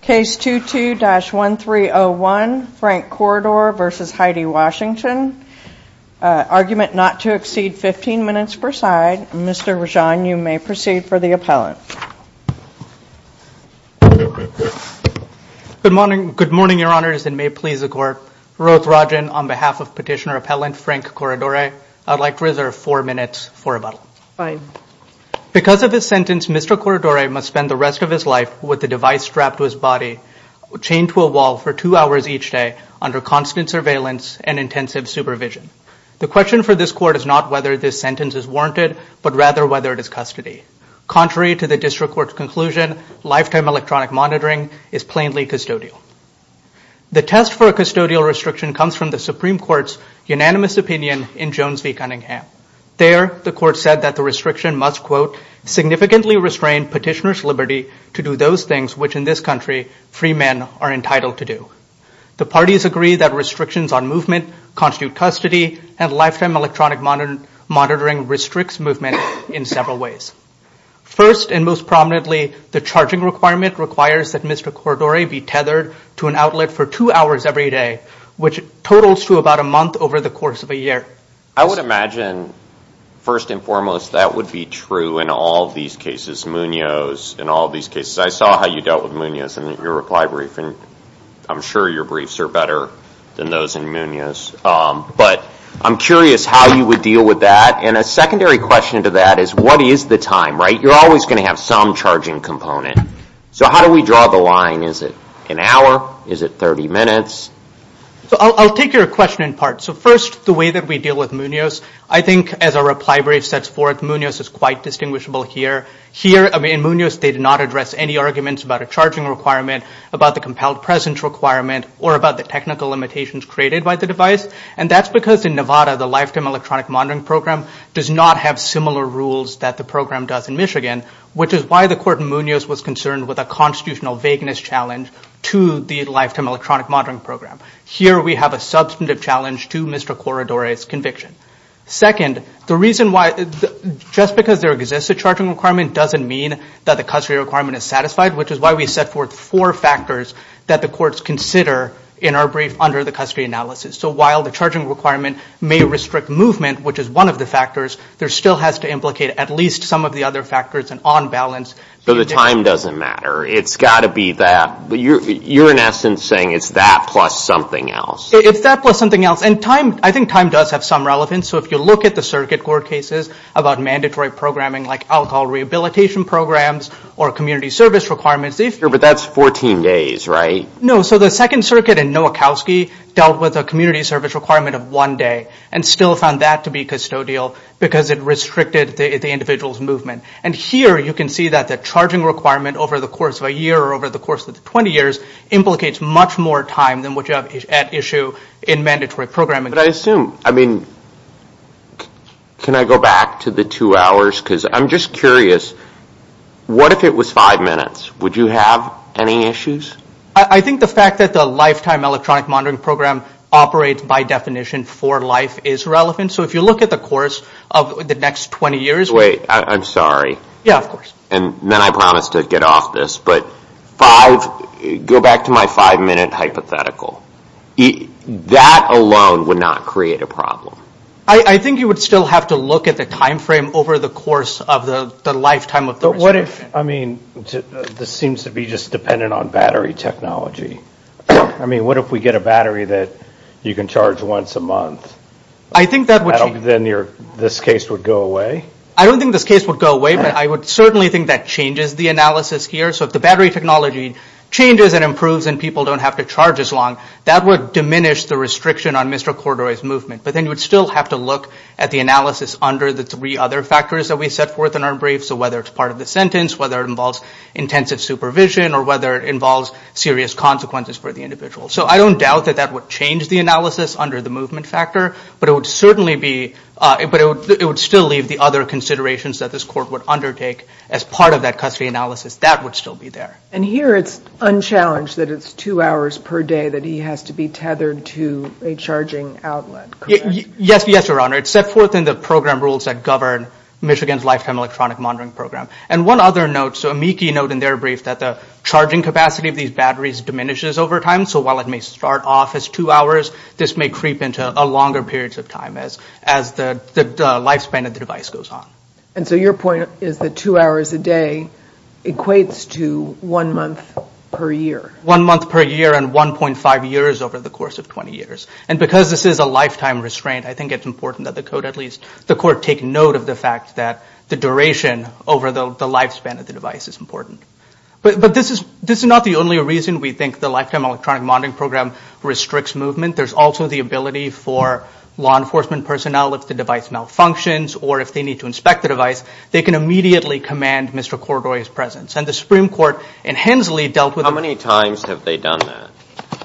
Case 22-1301, Frank Corridore versus Heidi Washington. Argument not to exceed 15 minutes per side. Mr. Rajan, you may proceed for the appellant. Good morning. Good morning, your honors, and may it please the court. Ruth Rajan on behalf of petitioner appellant Frank Corridore. I'd like to reserve four minutes for rebuttal. Because of this sentence, Mr. Corridore must spend the rest of his life with the device strapped to his body, chained to a wall for two hours each day under constant surveillance and intensive supervision. The question for this court is not whether this sentence is warranted, but rather whether it is custody. Contrary to the district court's conclusion, lifetime electronic monitoring is plainly custodial. The test for a custodial restriction comes from the Supreme Court's unanimous opinion in Jones v. Cunningham. There, the court said that the restriction must, quote, significantly restrain petitioner's ability to do those things which, in this country, free men are entitled to do. The parties agree that restrictions on movement constitute custody, and lifetime electronic monitoring restricts movement in several ways. First, and most prominently, the charging requirement requires that Mr. Corridore be tethered to an outlet for two hours every day, which totals to about a month over the course of a year. I would imagine, first and foremost, that would be true in all these cases, Munoz, in all these cases. I saw how you dealt with Munoz in your reply brief, and I'm sure your briefs are better than those in Munoz, but I'm curious how you would deal with that. And a secondary question to that is, what is the time, right? You're always going to have some charging component. So how do we draw the line? Is it an hour? Is it 30 minutes? So I'll take your question in part. So first, the way that we deal with Munoz, I think as a reply brief sets forth, Munoz is quite distinguishable here. Here, I mean, in Munoz, they did not address any arguments about a charging requirement, about the compelled presence requirement, or about the technical limitations created by the device, and that's because in Nevada, the lifetime electronic monitoring program does not have similar rules that the program does in Michigan, which is why the court in Munoz was concerned with a constitutional vagueness challenge to the lifetime electronic monitoring program. Here, we have a substantive challenge to Mr. Corradore's conviction. Second, the reason why, just because there exists a charging requirement doesn't mean that the custody requirement is satisfied, which is why we set forth four factors that the courts consider in our brief under the custody analysis. So while the charging requirement may restrict movement, which is one of the factors, there still has to implicate at least some of the other factors and on balance. So the time doesn't matter. It's got to be that, but you're in essence saying it's that plus something else. It's that plus something else, and time, I think time does have some relevance. So if you look at the circuit court cases about mandatory programming like alcohol rehabilitation programs or community service requirements. Sure, but that's 14 days, right? No, so the Second Circuit and Nowakowski dealt with a community service requirement of one day and still found that to be custodial because it restricted the individual's movement. And here, you can see that the charging requirement over the course of a year or over the course of the 20 years implicates much more time than what you have at issue in mandatory programming. But I assume, I mean, can I go back to the two hours? Because I'm just curious, what if it was five minutes? Would you have any issues? I think the fact that the lifetime electronic monitoring program operates by definition for life is relevant. So if you look at the course of the next 20 years. Wait, I'm sorry. Yeah, of course. And then I promised to get off this, but five, go back to my five-minute hypothetical. That alone would not create a problem. I think you would still have to look at the time frame over the course of the lifetime of the... But what if, I mean, this seems to be just dependent on battery technology. I mean, what if we get a battery that you can charge once a month? I think that would... Then this case would go away? I don't think this case would go away, but I would certainly think that changes the battery technology. So if the battery technology changes and improves and people don't have to charge as long, that would diminish the restriction on Mr. Cordoy's movement. But then you would still have to look at the analysis under the three other factors that we set forth in our brief. So whether it's part of the sentence, whether it involves intensive supervision, or whether it involves serious consequences for the individual. So I don't doubt that that would change the analysis under the movement factor, but it would certainly be... But it would still leave the other considerations that this court would still be there. And here, it's unchallenged that it's two hours per day that he has to be tethered to a charging outlet, correct? Yes, yes, Your Honor. It's set forth in the program rules that govern Michigan's Lifetime Electronic Monitoring Program. And one other note, so a meekie note in their brief, that the charging capacity of these batteries diminishes over time. So while it may start off as two hours, this may creep into a longer periods of time as the lifespan of the device goes on. And so your point is that two hours a day equates to one month per year? One month per year and 1.5 years over the course of 20 years. And because this is a lifetime restraint, I think it's important that the court at least, the court take note of the fact that the duration over the lifespan of the device is important. But this is not the only reason we think the Lifetime Electronic Monitoring Program restricts movement. There's also the ability for law enforcement personnel if the device malfunctions, or if they need to inspect the device, they can immediately command Mr. Coridore's presence. And the Supreme Court in Hensley dealt with... How many times have they done that?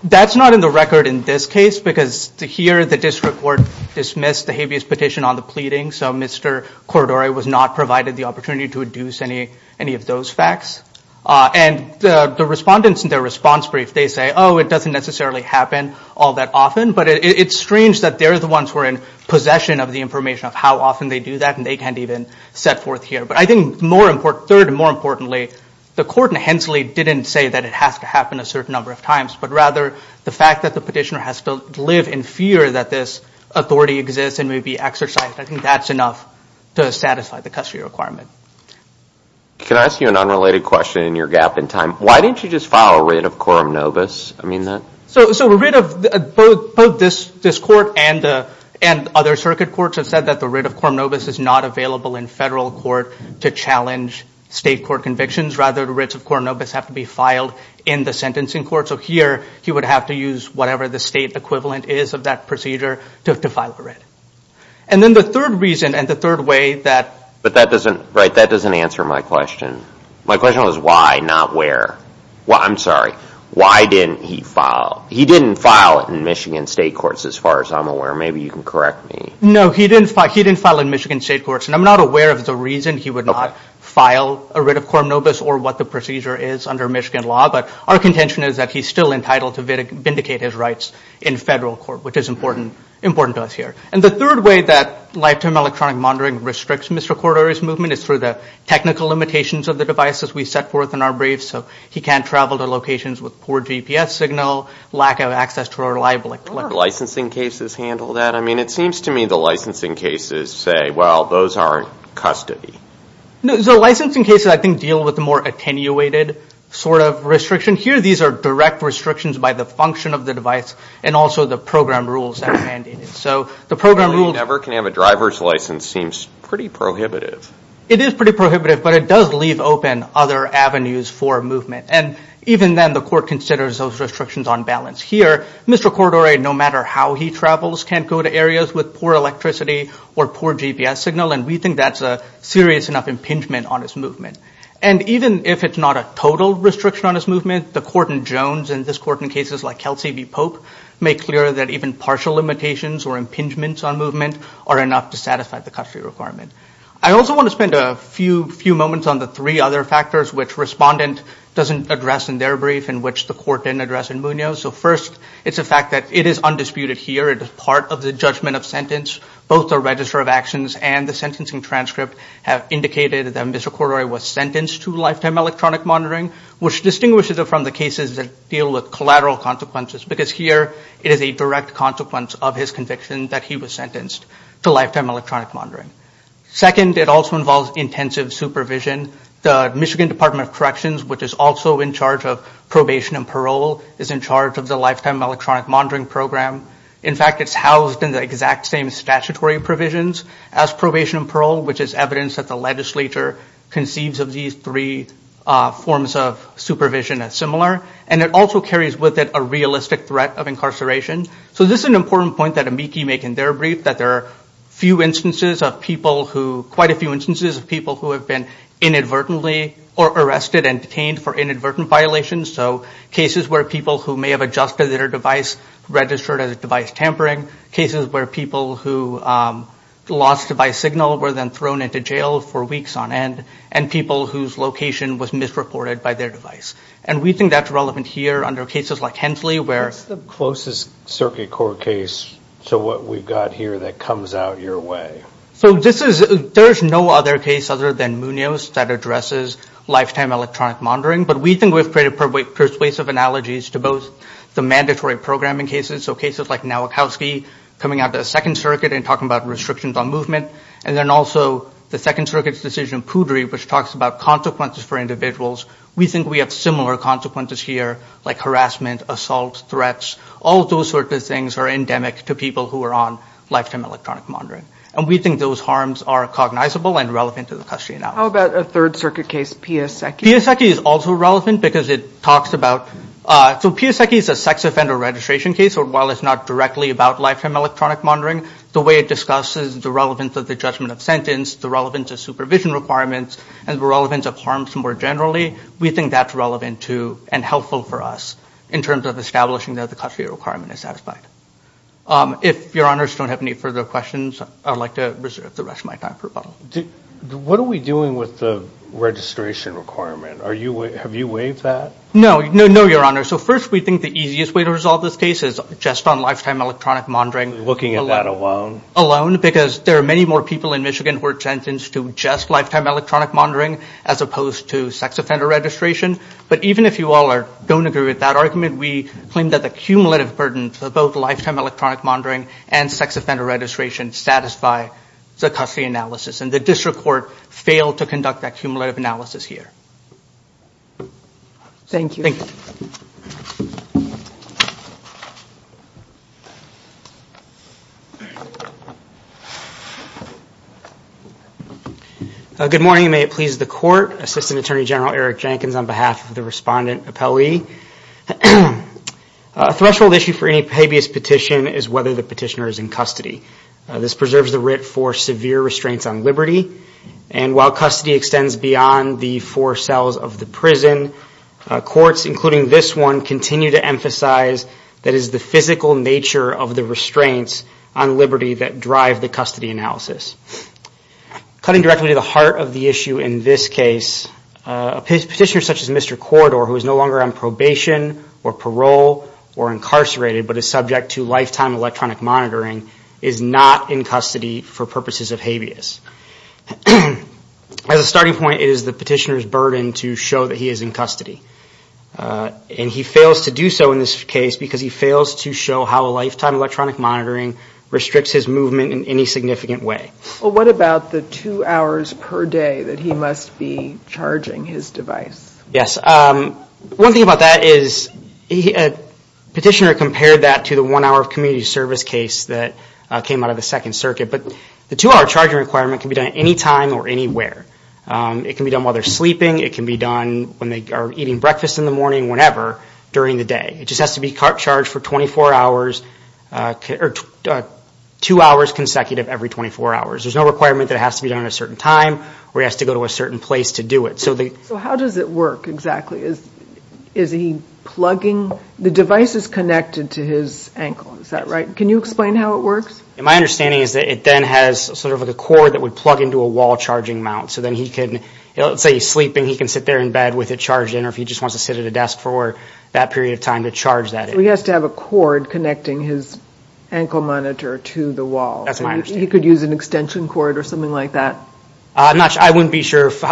That's not in the record in this case, because to hear the district court dismiss the habeas petition on the pleading, so Mr. Coridore was not provided the opportunity to deduce any of those facts. And the respondents in their response brief, they say, oh, it doesn't necessarily happen all that often. But it's strange that they're the ones who are in possession of the information of how often they do that, and they can't even set forth here. But I think more important... Third and more importantly, the court in Hensley didn't say that it has to happen a certain number of times, but rather the fact that the petitioner has to live in fear that this authority exists and may be exercised, I think that's enough to satisfy the custody requirement. Can I ask you an unrelated question in your gap in time? Why didn't you just file a writ of quorum novus? I mean that... So a writ of... Both this court and other circuit courts have said that the writ of quorum novus is not available in federal court to challenge state court convictions, rather the writs of quorum novus have to be filed in the sentencing court. So here, he would have to use whatever the state equivalent is of that procedure to file a writ. And then the third reason and the third way that... But that doesn't... Right, that doesn't answer my question. My question was why, not where. Well, I'm sorry. Why didn't he file... He didn't file it in Michigan state courts, as far as I'm aware. Maybe you can correct me. No, he didn't file it in Michigan state courts. And I'm not aware of the reason he would not file a writ of quorum novus or what the procedure is under Michigan law, but our contention is that he's still entitled to vindicate his rights in federal court, which is important to us here. And the third way that lifetime electronic monitoring restricts Mr. Cordero's movement is through the technical limitations of the devices we set forth in our briefs. So he can't travel to locations with poor GPS signal, lack of access to a reliable... Are licensing cases handled that? I mean, it seems to me the licensing cases say, well, those aren't custody. No, so licensing cases, I think, deal with the more attenuated sort of restriction. Here, these are direct restrictions by the function of the device and also the program rules that are mandated. So the program rules... He never can have a driver's license seems pretty prohibitive. It is pretty prohibitive, but it does leave open other avenues for movement. And even then, the court considers those restrictions on balance. Here, Mr. Cordero, no matter how he travels, can't go to areas with poor electricity or poor GPS signal, and we think that's a serious enough impingement on his movement. And even if it's not a total restriction on his movement, the court in Jones and this court in cases like Kelsey v Pope make clear that even partial limitations or impingements on movement are enough to satisfy the custody requirement. I also wanna spend a few moments on the three other factors which respondent doesn't address in their brief in which the court didn't address in Munoz. So first, it's a fact that it is undisputed here. It is part of the judgment of sentence. Both the register of actions and the sentencing transcript have indicated that Mr. Cordero was sentenced to lifetime electronic monitoring, which distinguishes it from the cases that deal with collateral consequences, because here, it is a direct consequence of his conviction that he was sentenced to lifetime electronic monitoring. Second, it also involves intensive supervision. The Michigan Department of Corrections, which is also in charge of probation and parole, is in charge of the lifetime electronic monitoring program. In fact, it's housed in the exact same statutory provisions as probation and parole, which is evidence that the legislature conceives of these three forms of supervision as similar. And it also carries with it a realistic threat of incarceration. So this is an important point that AMICI make in their brief, that there are few instances of people who... Quite a few instances of people who have been inadvertently or arrested and detained for inadvertent violations. So cases where people who may have adjusted their device, registered as a device tampering, cases where people who lost device signal were then thrown into jail for weeks on end, and people whose location was misreported by their device. And we think that's relevant here under cases like Hensley, where... It's the closest circuit court case to what we've got here that comes out your way. So this is... There's no other case other than Munoz that is on lifetime electronic monitoring, but we think we've created persuasive analogies to both the mandatory programming cases, so cases like Nowakowski, coming out of the Second Circuit and talking about restrictions on movement. And then also the Second Circuit's decision, Poudry, which talks about consequences for individuals. We think we have similar consequences here, like harassment, assault, threats. All of those sorts of things are endemic to people who are on lifetime electronic monitoring. And we think those harms are cognizable and relevant to the custody analysis. How about a Third Circuit case, Piasecki? Piasecki is also relevant because it talks about... So Piasecki is a sex offender registration case, so while it's not directly about lifetime electronic monitoring, the way it discusses the relevance of the judgment of sentence, the relevance of supervision requirements, and the relevance of harms more generally, we think that's relevant to, and helpful for us, in terms of establishing that the custody requirement is satisfied. If your honors don't have any further questions, I'd like to reserve the rest of my time for rebuttal. What are we doing with the registration requirement? Have you waived that? No. No, your honors. So first, we think the easiest way to resolve this case is just on lifetime electronic monitoring. Looking at that alone? Alone, because there are many more people in Michigan who are sentenced to just lifetime electronic monitoring, as opposed to sex offender registration. But even if you all don't agree with that argument, we claim that the cumulative burden for both lifetime electronic monitoring and sex offender registration satisfy the custody analysis, and the district court failed to conduct that cumulative analysis here. Thank you. Thank you. Good morning, may it please the court. Assistant Attorney General Eric Jenkins on behalf of the respondent appellee. A threshold issue for any petitioner is in custody. This preserves the writ for severe restraints on liberty, and while custody extends beyond the four cells of the prison, courts, including this one, continue to emphasize that it is the physical nature of the restraints on liberty that drive the custody analysis. Cutting directly to the heart of the issue in this case, a petitioner such as Mr. Corridor, who is no longer on probation or electronic monitoring, is not in custody for purposes of habeas. As a starting point, it is the petitioner's burden to show that he is in custody. And he fails to do so in this case, because he fails to show how a lifetime electronic monitoring restricts his movement in any significant way. Well, what about the two hours per day that he must be charging his device? Yes. One thing about that is, a petitioner compared that to the one hour of community service case that came out of the Second Circuit. But the two hour charging requirement can be done at any time or anywhere. It can be done while they're sleeping. It can be done when they are eating breakfast in the morning, whenever, during the day. It just has to be charged for 24 hours, or two hours consecutive every 24 hours. There's no requirement that it has to be done at a certain time, or he has to go to a certain place to do it. So how does it work exactly? Is he plugging? The device is connected to his ankle, is that right? Can you explain how it works? My understanding is that it then has sort of a cord that would plug into a wall charging mount. So then he can, let's say he's sleeping, he can sit there in bed with it charged in, or if he just wants to sit at a desk for that period of time to charge that. He has to have a cord connecting his ankle monitor to the wall. That's my understanding. He could use an extension cord or something like that. I'm not sure. I wouldn't be sure if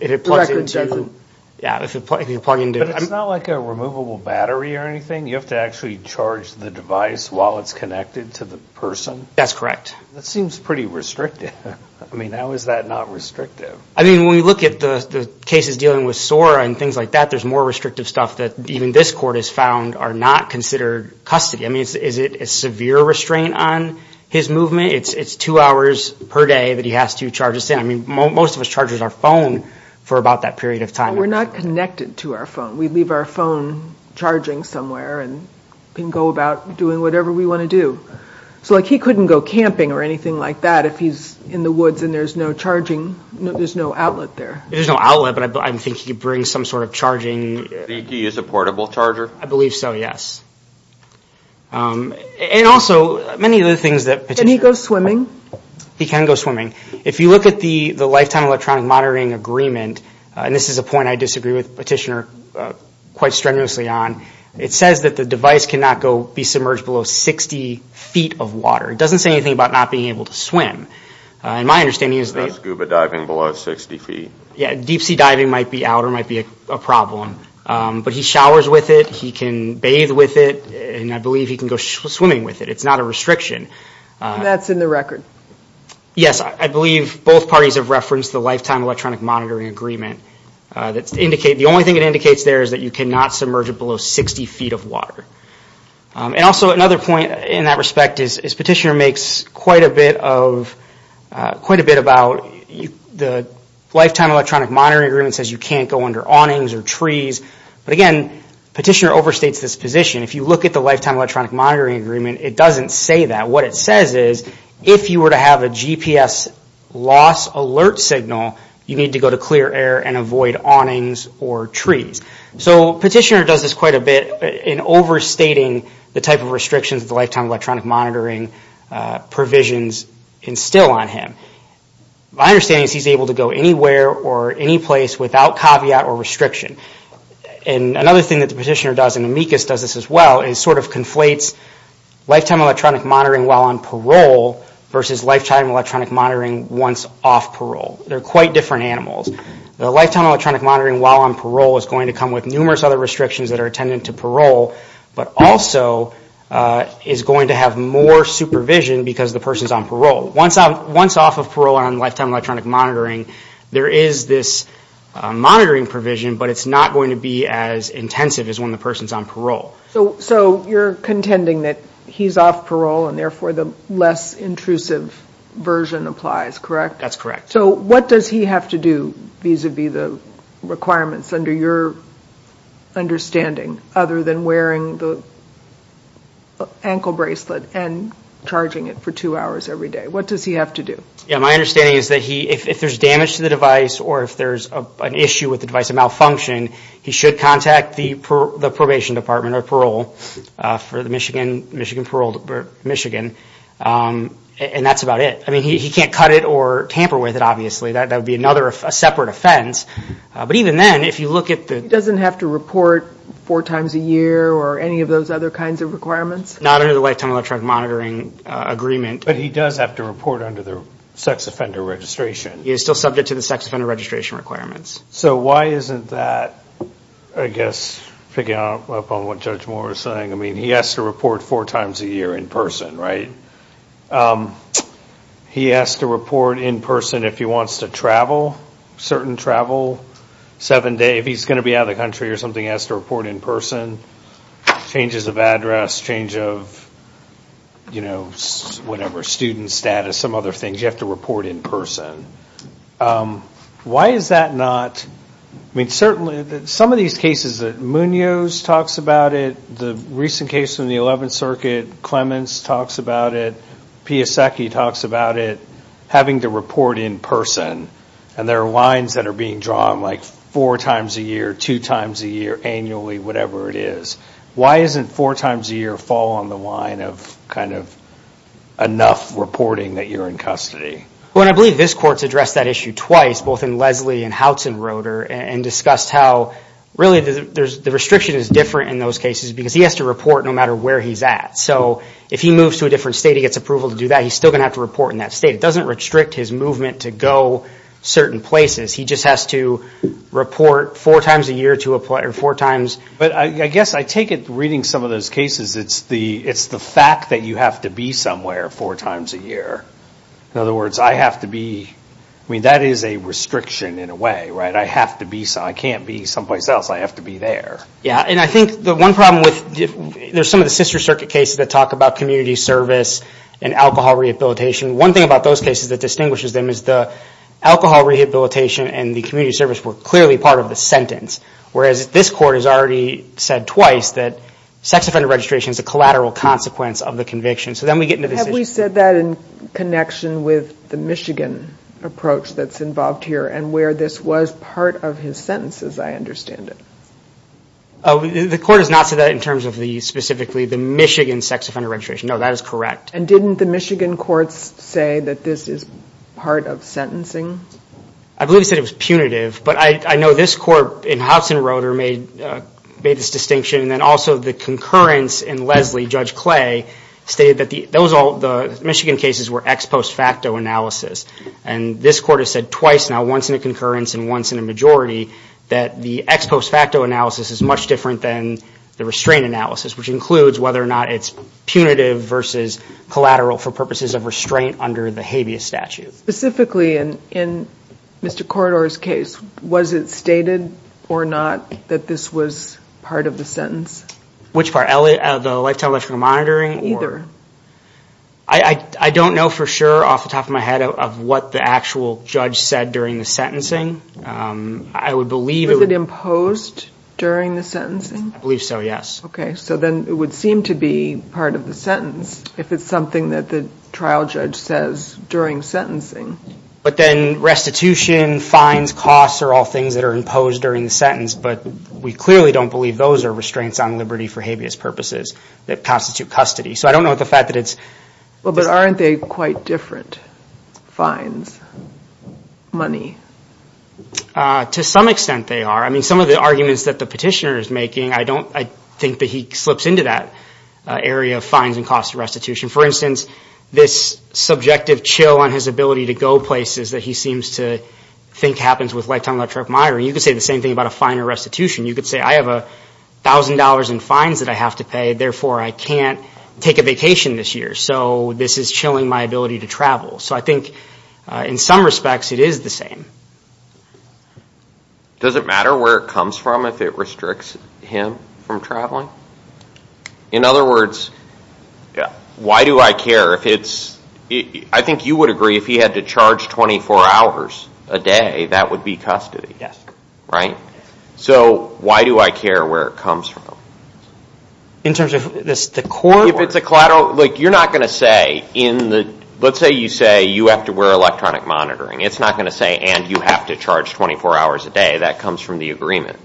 it plugs into. Yeah, if you plug into it. It's not like a removable battery or anything. You have to actually charge the device while it's connected to the person? That's correct. That seems pretty restrictive. I mean, how is that not restrictive? I mean, when we look at the cases dealing with SOAR and things like that, there's more restrictive stuff that even this court has found are not considered custody. I mean, is it a severe restraint on his movement? It's two hours per day that he has to charge his phone. I mean, most of us charge our phone for about that period of time. We're not connected to our phone. We leave our phone charging somewhere and can go about doing whatever we want to do. So like he couldn't go camping or anything like that if he's in the woods and there's no charging. There's no outlet there. There's no outlet, but I think he could bring some sort of charging. Do you use a portable charger? I believe so, yes. And also many of the things that... Can he go swimming? He can go swimming. If you look at the lifetime electronic monitoring agreement, and this is a point I disagree with Petitioner quite strenuously on, it says that the device cannot go be submerged below 60 feet of water. It doesn't say anything about not being able to swim. And my understanding is that... That's scuba diving below 60 feet. Yeah. Deep sea diving might be out or might be a problem, but he showers with it. He can bathe with it. And I believe he can go swimming with it. It's not a restriction. That's in the record. Yes. I believe both parties have referenced the lifetime electronic monitoring agreement. The only thing it indicates there is that you cannot submerge it below 60 feet of water. And also another point in that respect is Petitioner makes quite a bit of... Quite a bit about the lifetime electronic monitoring agreement says you can't go under awnings or trees. But again, Petitioner overstates this position. If you look at the lifetime electronic monitoring agreement, it doesn't say that. What it says is, if you were to have a GPS loss alert signal, you need to go to clear air and avoid awnings or trees. So Petitioner does this quite a bit in overstating the type of restrictions the lifetime electronic monitoring provisions instill on him. My understanding is he's able to go anywhere or any place without caveat or restriction. And another thing that the Petitioner does, and Amicus does this as well, is sort of conflates lifetime electronic monitoring while on parole versus lifetime electronic monitoring once off parole. They're quite different animals. The lifetime electronic monitoring while on parole is going to come with numerous other restrictions that are attendant to parole, but also is going to have more supervision because the person's on parole. Once off of parole and on lifetime electronic monitoring, there is this monitoring provision, but it's not going to be as intensive as when the person's on parole. So you're contending that he's off parole and therefore the less intrusive version applies, correct? That's correct. So what does he have to do vis-a-vis the requirements under your understanding other than wearing the ankle bracelet and charging it for two hours every day? What does he have to do? Yeah. My understanding is that if there's damage to the device or if there's an issue with the device, a malfunction, he should contact the probation department or parole for the Michigan Parole, Michigan, and that's about it. I mean, he can't cut it or tamper with it, obviously. That would be another, a separate offense. But even then, if you look at the... He doesn't have to report four times a year or any of those other kinds of requirements? Not under the lifetime electronic monitoring agreement. But he does have to report under the sex offender registration. He is still subject to the sex offender registration requirements. So why isn't that, I guess, picking up on what Judge Moore was saying. I mean, he has to report four times a year in person, right? He has to report in person if he wants to travel, certain travel, seven days, if he's going to be out of the country or something, he has to report in person. Changes of address, change of, you know, whatever, student status, some other things. You have to report in person. Why is that not... I mean, certainly some of these cases that Munoz talks about it, the recent case in the 11th Circuit, Clemens talks about it, Piasecki talks about it, having to report in person. And there are lines that are being drawn like four times a year, two times a year, annually, whatever it is. Why isn't four times a year fall on the line of kind of enough reporting that you're in custody? Well, and I believe this court's addressed that issue twice, both in Leslie and Houtzenroeder, and discussed how really the restriction is different in those cases, because he has to report no matter where he's at. So if he moves to a different state, he gets approval to do that, he's still going to have to report in that state. It doesn't restrict his movement to go certain places. He just has to report four times a year to a player, four times. But I guess I take it, reading some of those cases, it's the fact that you have to be somewhere four times a year. In other words, I have to be, I mean, that is a restriction in a way, right? I have to be, I can't be someplace else. I have to be there. Yeah, and I think the one problem with, there's some of the sister circuit cases that talk about community service and alcohol rehabilitation. One thing about those cases that distinguishes them is the alcohol rehabilitation and the community service were clearly part of the sentence. Whereas this court has already said twice that sex offender registration is a collateral consequence of the conviction. So then we get into this issue. Have we said that in connection with the Michigan approach that's involved here and where this was part of his sentences, I understand it. The court has not said that in terms of the specifically the Michigan sex offender registration. No, that is correct. And didn't the Michigan courts say that this is part of sentencing? I believe he said it was punitive, but I know this court in Houtzenroeder made this distinction and then also the concurrence in Leslie, Judge Clay, stated that those all, the Michigan cases were ex post facto analysis. And this court has said twice now, once in a concurrence and once in a majority, that the ex post facto analysis is much different than the restraint analysis, which includes whether or not it's punitive versus collateral for purposes of restraint under the habeas statute. Specifically in, in Mr. Corridor's case, was it stated or not that this was part of the sentence? Which part, the lifetime electrical monitoring? I don't know for sure off the top of my head of what the actual judge said during the sentencing, I would believe it was imposed during the sentencing. I believe so. Yes. Okay. So then it would seem to be part of the sentence if it's something that the trial judge says during sentencing. But then restitution, fines, costs are all things that are imposed during the sentence, but we clearly don't believe those are restraints on liberty for habeas purposes that constitute custody. So I don't know what the fact that it's. Well, but aren't they quite different fines, money? To some extent they are. I mean, some of the arguments that the petitioner is making, I don't, I think that he slips into that area of fines and costs of restitution. For instance, this subjective chill on his ability to go places that he seems to think happens with lifetime electric monitoring, you could say the same thing about a fine or restitution. You could say, I have a thousand dollars in fines that I have to pay. Therefore, I can't take a vacation this year. So this is chilling my ability to travel. So I think in some respects it is the same. Does it matter where it comes from if it restricts him from traveling? In other words, why do I care if it's, I think you would agree if he had to charge 24 hours a day, that would be custody, right? So why do I care where it comes from? In terms of this, the court. If it's a collateral, like you're not going to say in the, let's say you say you have to wear electronic monitoring. It's not going to say, and you have to charge 24 hours a day. That comes from the agreement.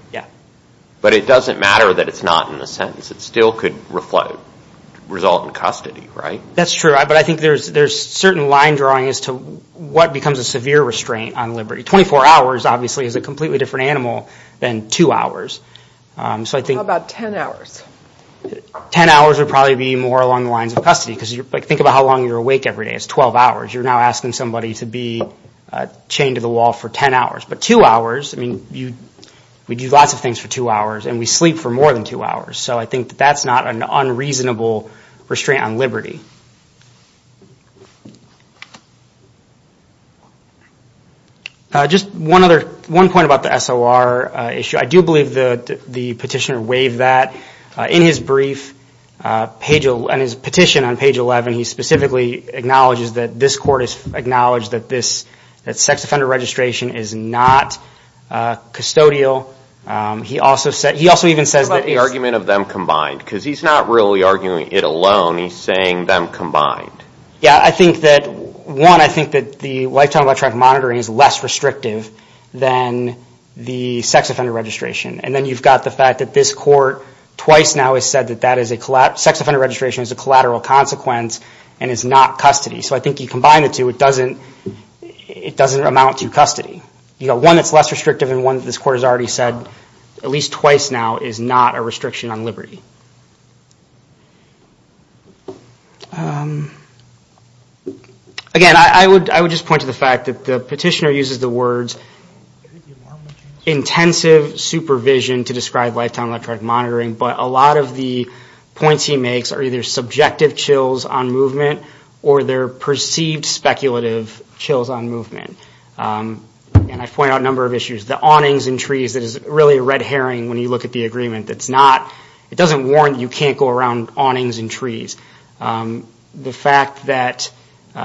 But it doesn't matter that it's not in the sentence. It still could result in custody, right? That's true. But I think there's, there's certain line drawing as to what becomes a severe restraint on liberty. 24 hours obviously is a completely different animal than two hours. So I think. How about 10 hours? 10 hours would probably be more along the lines of custody. Because you're like, think about how long you're awake every day. It's 12 hours. You're now asking somebody to be chained to the wall for 10 hours. But two hours, I mean, you, we do lots of things for two hours and we sleep for more than two hours. So I think that that's not an unreasonable restraint on liberty. Just one other, one point about the SOR issue. I do believe that the petitioner waived that. In his brief, on his petition on page 11, he specifically acknowledges that this court has acknowledged that this, that sex offender registration is not custodial. He also said, he also even says that. What about the argument of them combined? Because he's not really arguing it alone. He's saying them combined. Yeah. I think that one, I think that the lifetime electronic monitoring is less restrictive than the sex offender registration. And then you've got the fact that this court twice now has said that that is a collateral, sex offender registration is a collateral consequence and is not custody. So I think you combine the two. It doesn't, it doesn't amount to custody. You know, one that's less restrictive and one that this court has already said at least twice now is not a restriction on liberty. Again, I would, I would just point to the fact that the petitioner uses the words intensive supervision to describe lifetime electronic monitoring, but a lot of the points he makes are either subjective chills on movement or they're perceived speculative chills on movement. And I point out a number of issues, the awnings and trees that is really a red herring when you look at the agreement. That's not, it doesn't warrant you can't go around awnings and trees. The fact that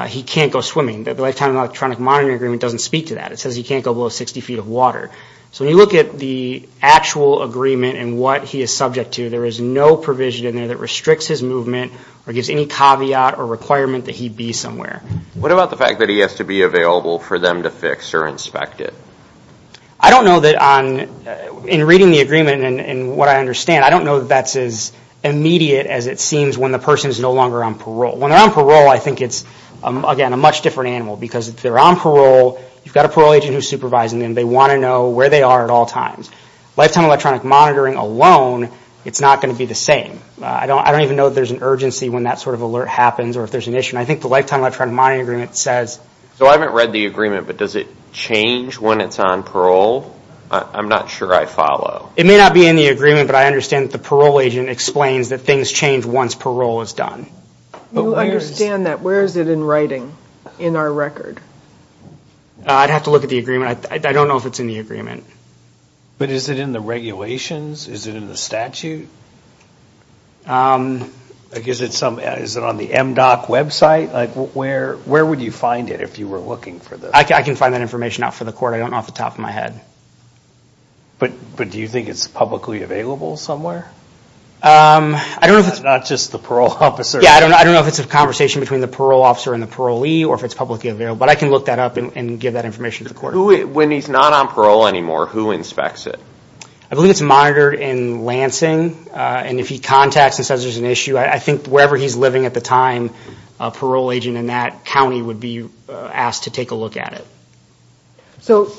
he can't go swimming, that the lifetime electronic monitoring agreement doesn't speak to that. It says he can't go below 60 feet of water. So when you look at the actual agreement and what he is subject to, there is no provision in there that restricts his movement or gives any caveat or requirement that he be somewhere. What about the fact that he has to be available for them to fix or inspect it? I don't know that on, in reading the agreement and what I understand, I don't know that that's as immediate as it seems when the person is no longer on parole. When they're on parole, I think it's, again, a much different animal because if they're on parole, you've got a parole agent who's supervising them. They want to know where they are at all times. Lifetime electronic monitoring alone, it's not going to be the same. I don't, I don't even know that there's an urgency when that sort of alert happens or if there's an issue. And I think the lifetime electronic monitoring agreement says. So I haven't read the agreement, but does it change when it's on parole? I'm not sure I follow. It may not be in the agreement, but I understand that the parole agent explains that things change once parole is done. You understand that. Where is it in writing in our record? I'd have to look at the agreement. I don't know if it's in the agreement. But is it in the regulations? Is it in the statute? Is it some, is it on the MDOC website? Like where, where would you find it if you were looking for this? I can find that information out for the court. I don't know off the top of my head. But, but do you think it's publicly available somewhere? Um, I don't know if it's not just the parole officer. Yeah. I don't know. I don't know if it's a conversation between the parole officer and the parolee or if it's publicly available, but I can look that up and give that information to the court when he's not on parole anymore, who inspects it. I believe it's monitored in Lansing. Uh, and if he contacts and says there's an issue, I think wherever he's living at the time, a parole agent in that County would be asked to take a look at it. So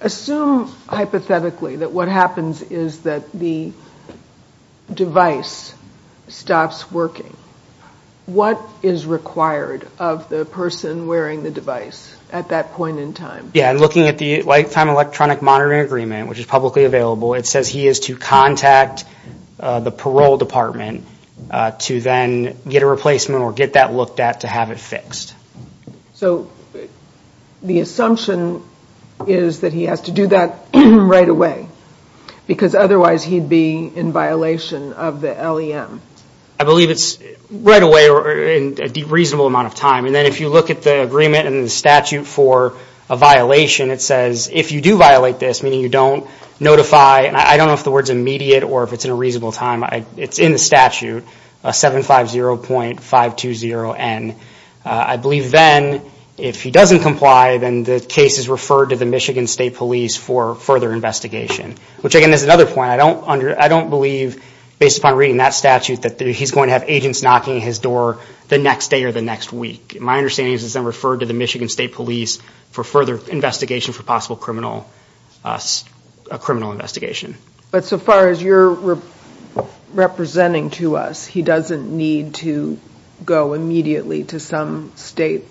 assume hypothetically that what happens is that the device stops working. What is required of the person wearing the device at that point in time? Yeah. And looking at the lifetime electronic monitoring agreement, which is publicly available. It says he is to contact, uh, the parole department, uh, to then get a replacement or get that looked at to have it fixed. So the assumption is that he has to do that right away because otherwise he'd be in violation of the LEM. I believe it's right away or in a reasonable amount of time. And then if you look at the agreement and the statute for a violation, it says if you do violate this, meaning you don't notify, and I don't know if the word's immediate or if it's in a reasonable time, it's in the statute, uh, 750.520N. Uh, I believe then if he doesn't comply, then the case is referred to the Michigan state police for further investigation, which again, there's another point. I don't under, I don't believe based upon reading that statute that he's going to have agents knocking at his door the next day or the next week. My understanding is it's then referred to the Michigan state police for further investigation for possible criminal, uh, criminal investigation. But so far as you're representing to us, he doesn't need to go immediately to some state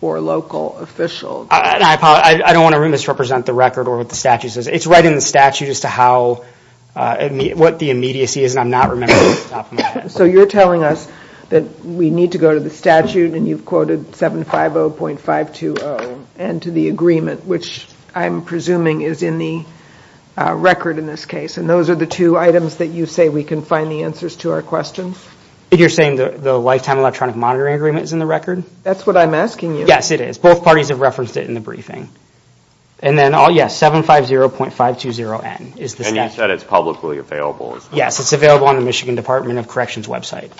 or local official. I don't want to misrepresent the record or what the statute says. It's right in the statute as to how, uh, what the immediacy is. And I'm not remembering off the top of my head. So you're telling us that we need to go to the statute and you've quoted 750.520N to the agreement, which I'm presuming is in the, uh, record in this case. And those are the two items that you say we can find the answers to our questions. You're saying the lifetime electronic monitoring agreement is in the record? That's what I'm asking you. Yes, it is. Both parties have referenced it in the briefing. And then all, yes, 750.520N is the statute. And you said it's publicly available. Yes, it's available on the Michigan Department of Corrections website.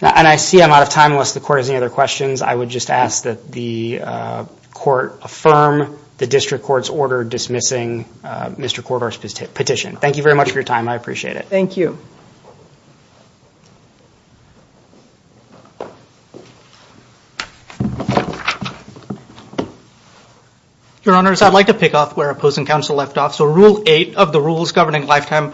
And I see I'm out of time unless the court has any other questions. I would just ask that the, uh, court affirm the district court's order dismissing, uh, Mr. Kordar's petition. Thank you very much for your time. I appreciate it. Thank you. Your honors, I'd like to pick off where opposing counsel left off. So rule eight of the rules governing lifetime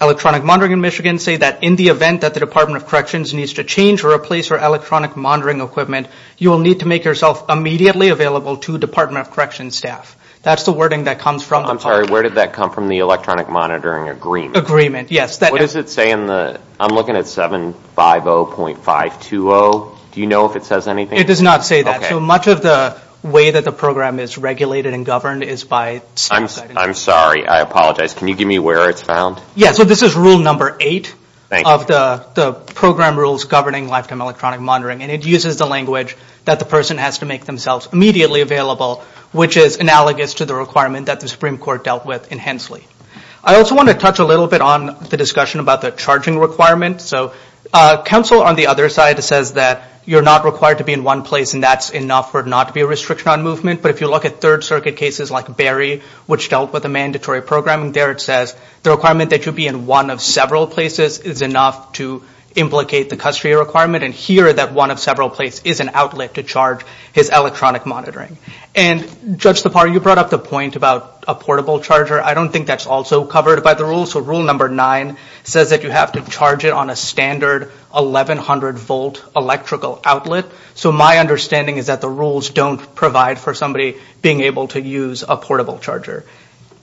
electronic monitoring in Michigan say that in the event that the Department of Corrections needs to change or replace or electronic monitoring equipment, you will need to make yourself immediately available to Department of Corrections staff. That's the wording that comes from. I'm sorry. Where did that come from? The electronic monitoring agreement? Agreement. Yes. What does it say in the, I'm looking at 750.520. Do you know if it says anything? It does not say that. So much of the way that the program is regulated and governed is by. I'm sorry. I apologize. Can you give me where it's found? Yeah. So this is rule number eight of the, the program rules governing lifetime electronic monitoring, and it uses the language that the person has to make themselves immediately available, which is analogous to the requirement that the Supreme Court dealt with in Hensley. I also want to touch a little bit on the discussion about the charging requirement. So counsel on the other side says that you're not required to be in one place and that's enough for it not to be a restriction on movement. But if you look at third circuit cases like Barry, which dealt with a mandatory program there, it says the requirement that you be in one of several places is enough to implicate the custody requirement. And here that one of several places is an outlet to charge his electronic monitoring. And Judge Tapar, you brought up the point about a portable charger. I don't think that's also covered by the rules. So rule number nine says that you have to charge it on a standard 1100 volt electrical outlet. So my understanding is that the rules don't provide for somebody being able to use a portable charger.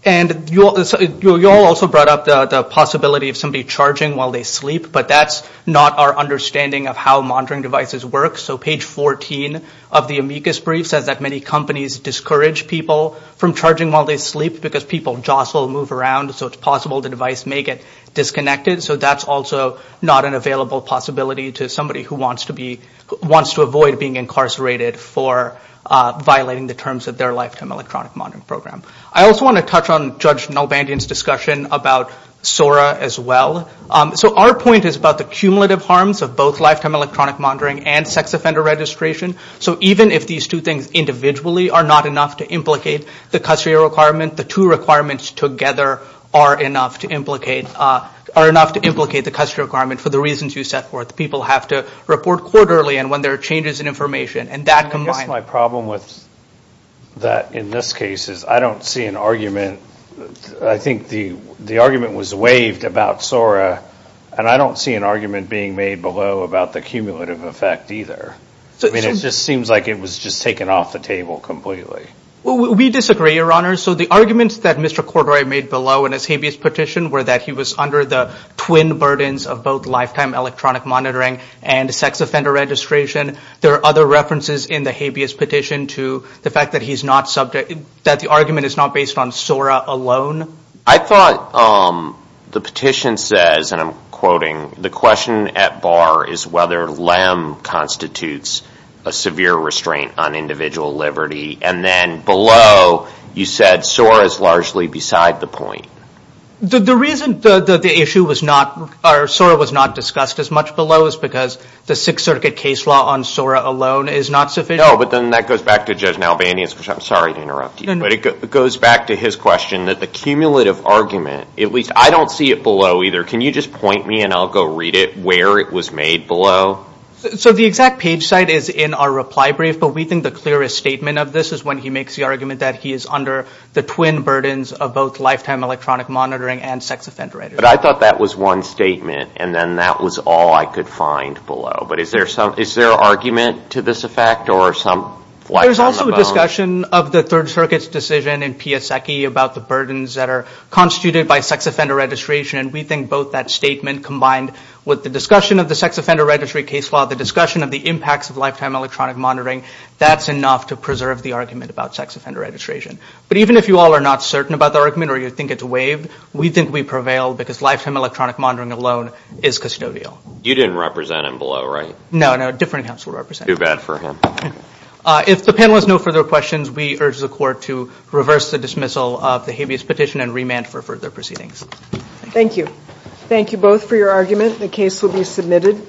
And you all also brought up the possibility of somebody charging while they sleep, but that's not our understanding of how monitoring devices work. So page 14 of the amicus brief says that many companies discourage people from charging while they sleep because people jostle, move around. So it's possible the device may get disconnected. So that's also not an available possibility to somebody who wants to avoid being incarcerated for violating the terms of their lifetime electronic monitoring program. I also want to touch on Judge Nalbandian's discussion about SORA as well. So our point is about the cumulative harms of both lifetime electronic monitoring and sex offender registration. So even if these two things individually are not enough to implicate the custodial requirement, the two requirements together are enough to implicate, are enough to implicate the custodial requirement for the reasons you set forth. People have to report quarterly and when there are changes in information and that combined. I guess my problem with that in this case is I don't see an argument. I think the argument was waived about SORA and I don't see an argument being made below about the cumulative effect either. I mean, it just seems like it was just taken off the table completely. Well, we disagree, Your Honor. So the arguments that Mr. Cordray made below in his habeas petition were that he was under the twin burdens of both lifetime electronic monitoring and sex offender registration. There are other references in the habeas petition to the fact that he's not subject, that the argument is not based on SORA alone. I thought the petition says, and I'm quoting, the question at bar is whether LEM constitutes a severe restraint on individual liberty. And then below you said SORA is largely beside the point. The reason that the issue was not, or SORA was not discussed as much below is because the Sixth Circuit case law on SORA alone is not sufficient. No, but then that goes back to Judge Nalvanian, which I'm sorry to interrupt you, but it goes back to his question that the cumulative argument, at least I don't see it below either. Can you just point me and I'll go read it where it was made below? So the exact page site is in our reply brief, but we think the clearest statement of this is when he makes the argument that he is under the twin burdens of both lifetime electronic monitoring and sex offender registration. But I thought that was one statement and then that was all I could find below. But is there some, is there an argument to this effect or some? There's also a discussion of the Third Circuit's decision in Pia Secchi about the burdens that are constituted by sex offender registration. We think both that statement combined with the discussion of the sex offender registry case law, the discussion of the impacts of lifetime electronic monitoring, that's enough to preserve the argument about sex offender registration. But even if you all are not certain about the argument or you think it's waived, we think we prevail because lifetime electronic monitoring alone is custodial. You didn't represent him below, right? No, no. Different counsel represent. Too bad for him. If the panel has no further questions, we urge the court to reverse the dismissal of the habeas petition and remand for further proceedings. Thank you both for your argument. The case will be submitted.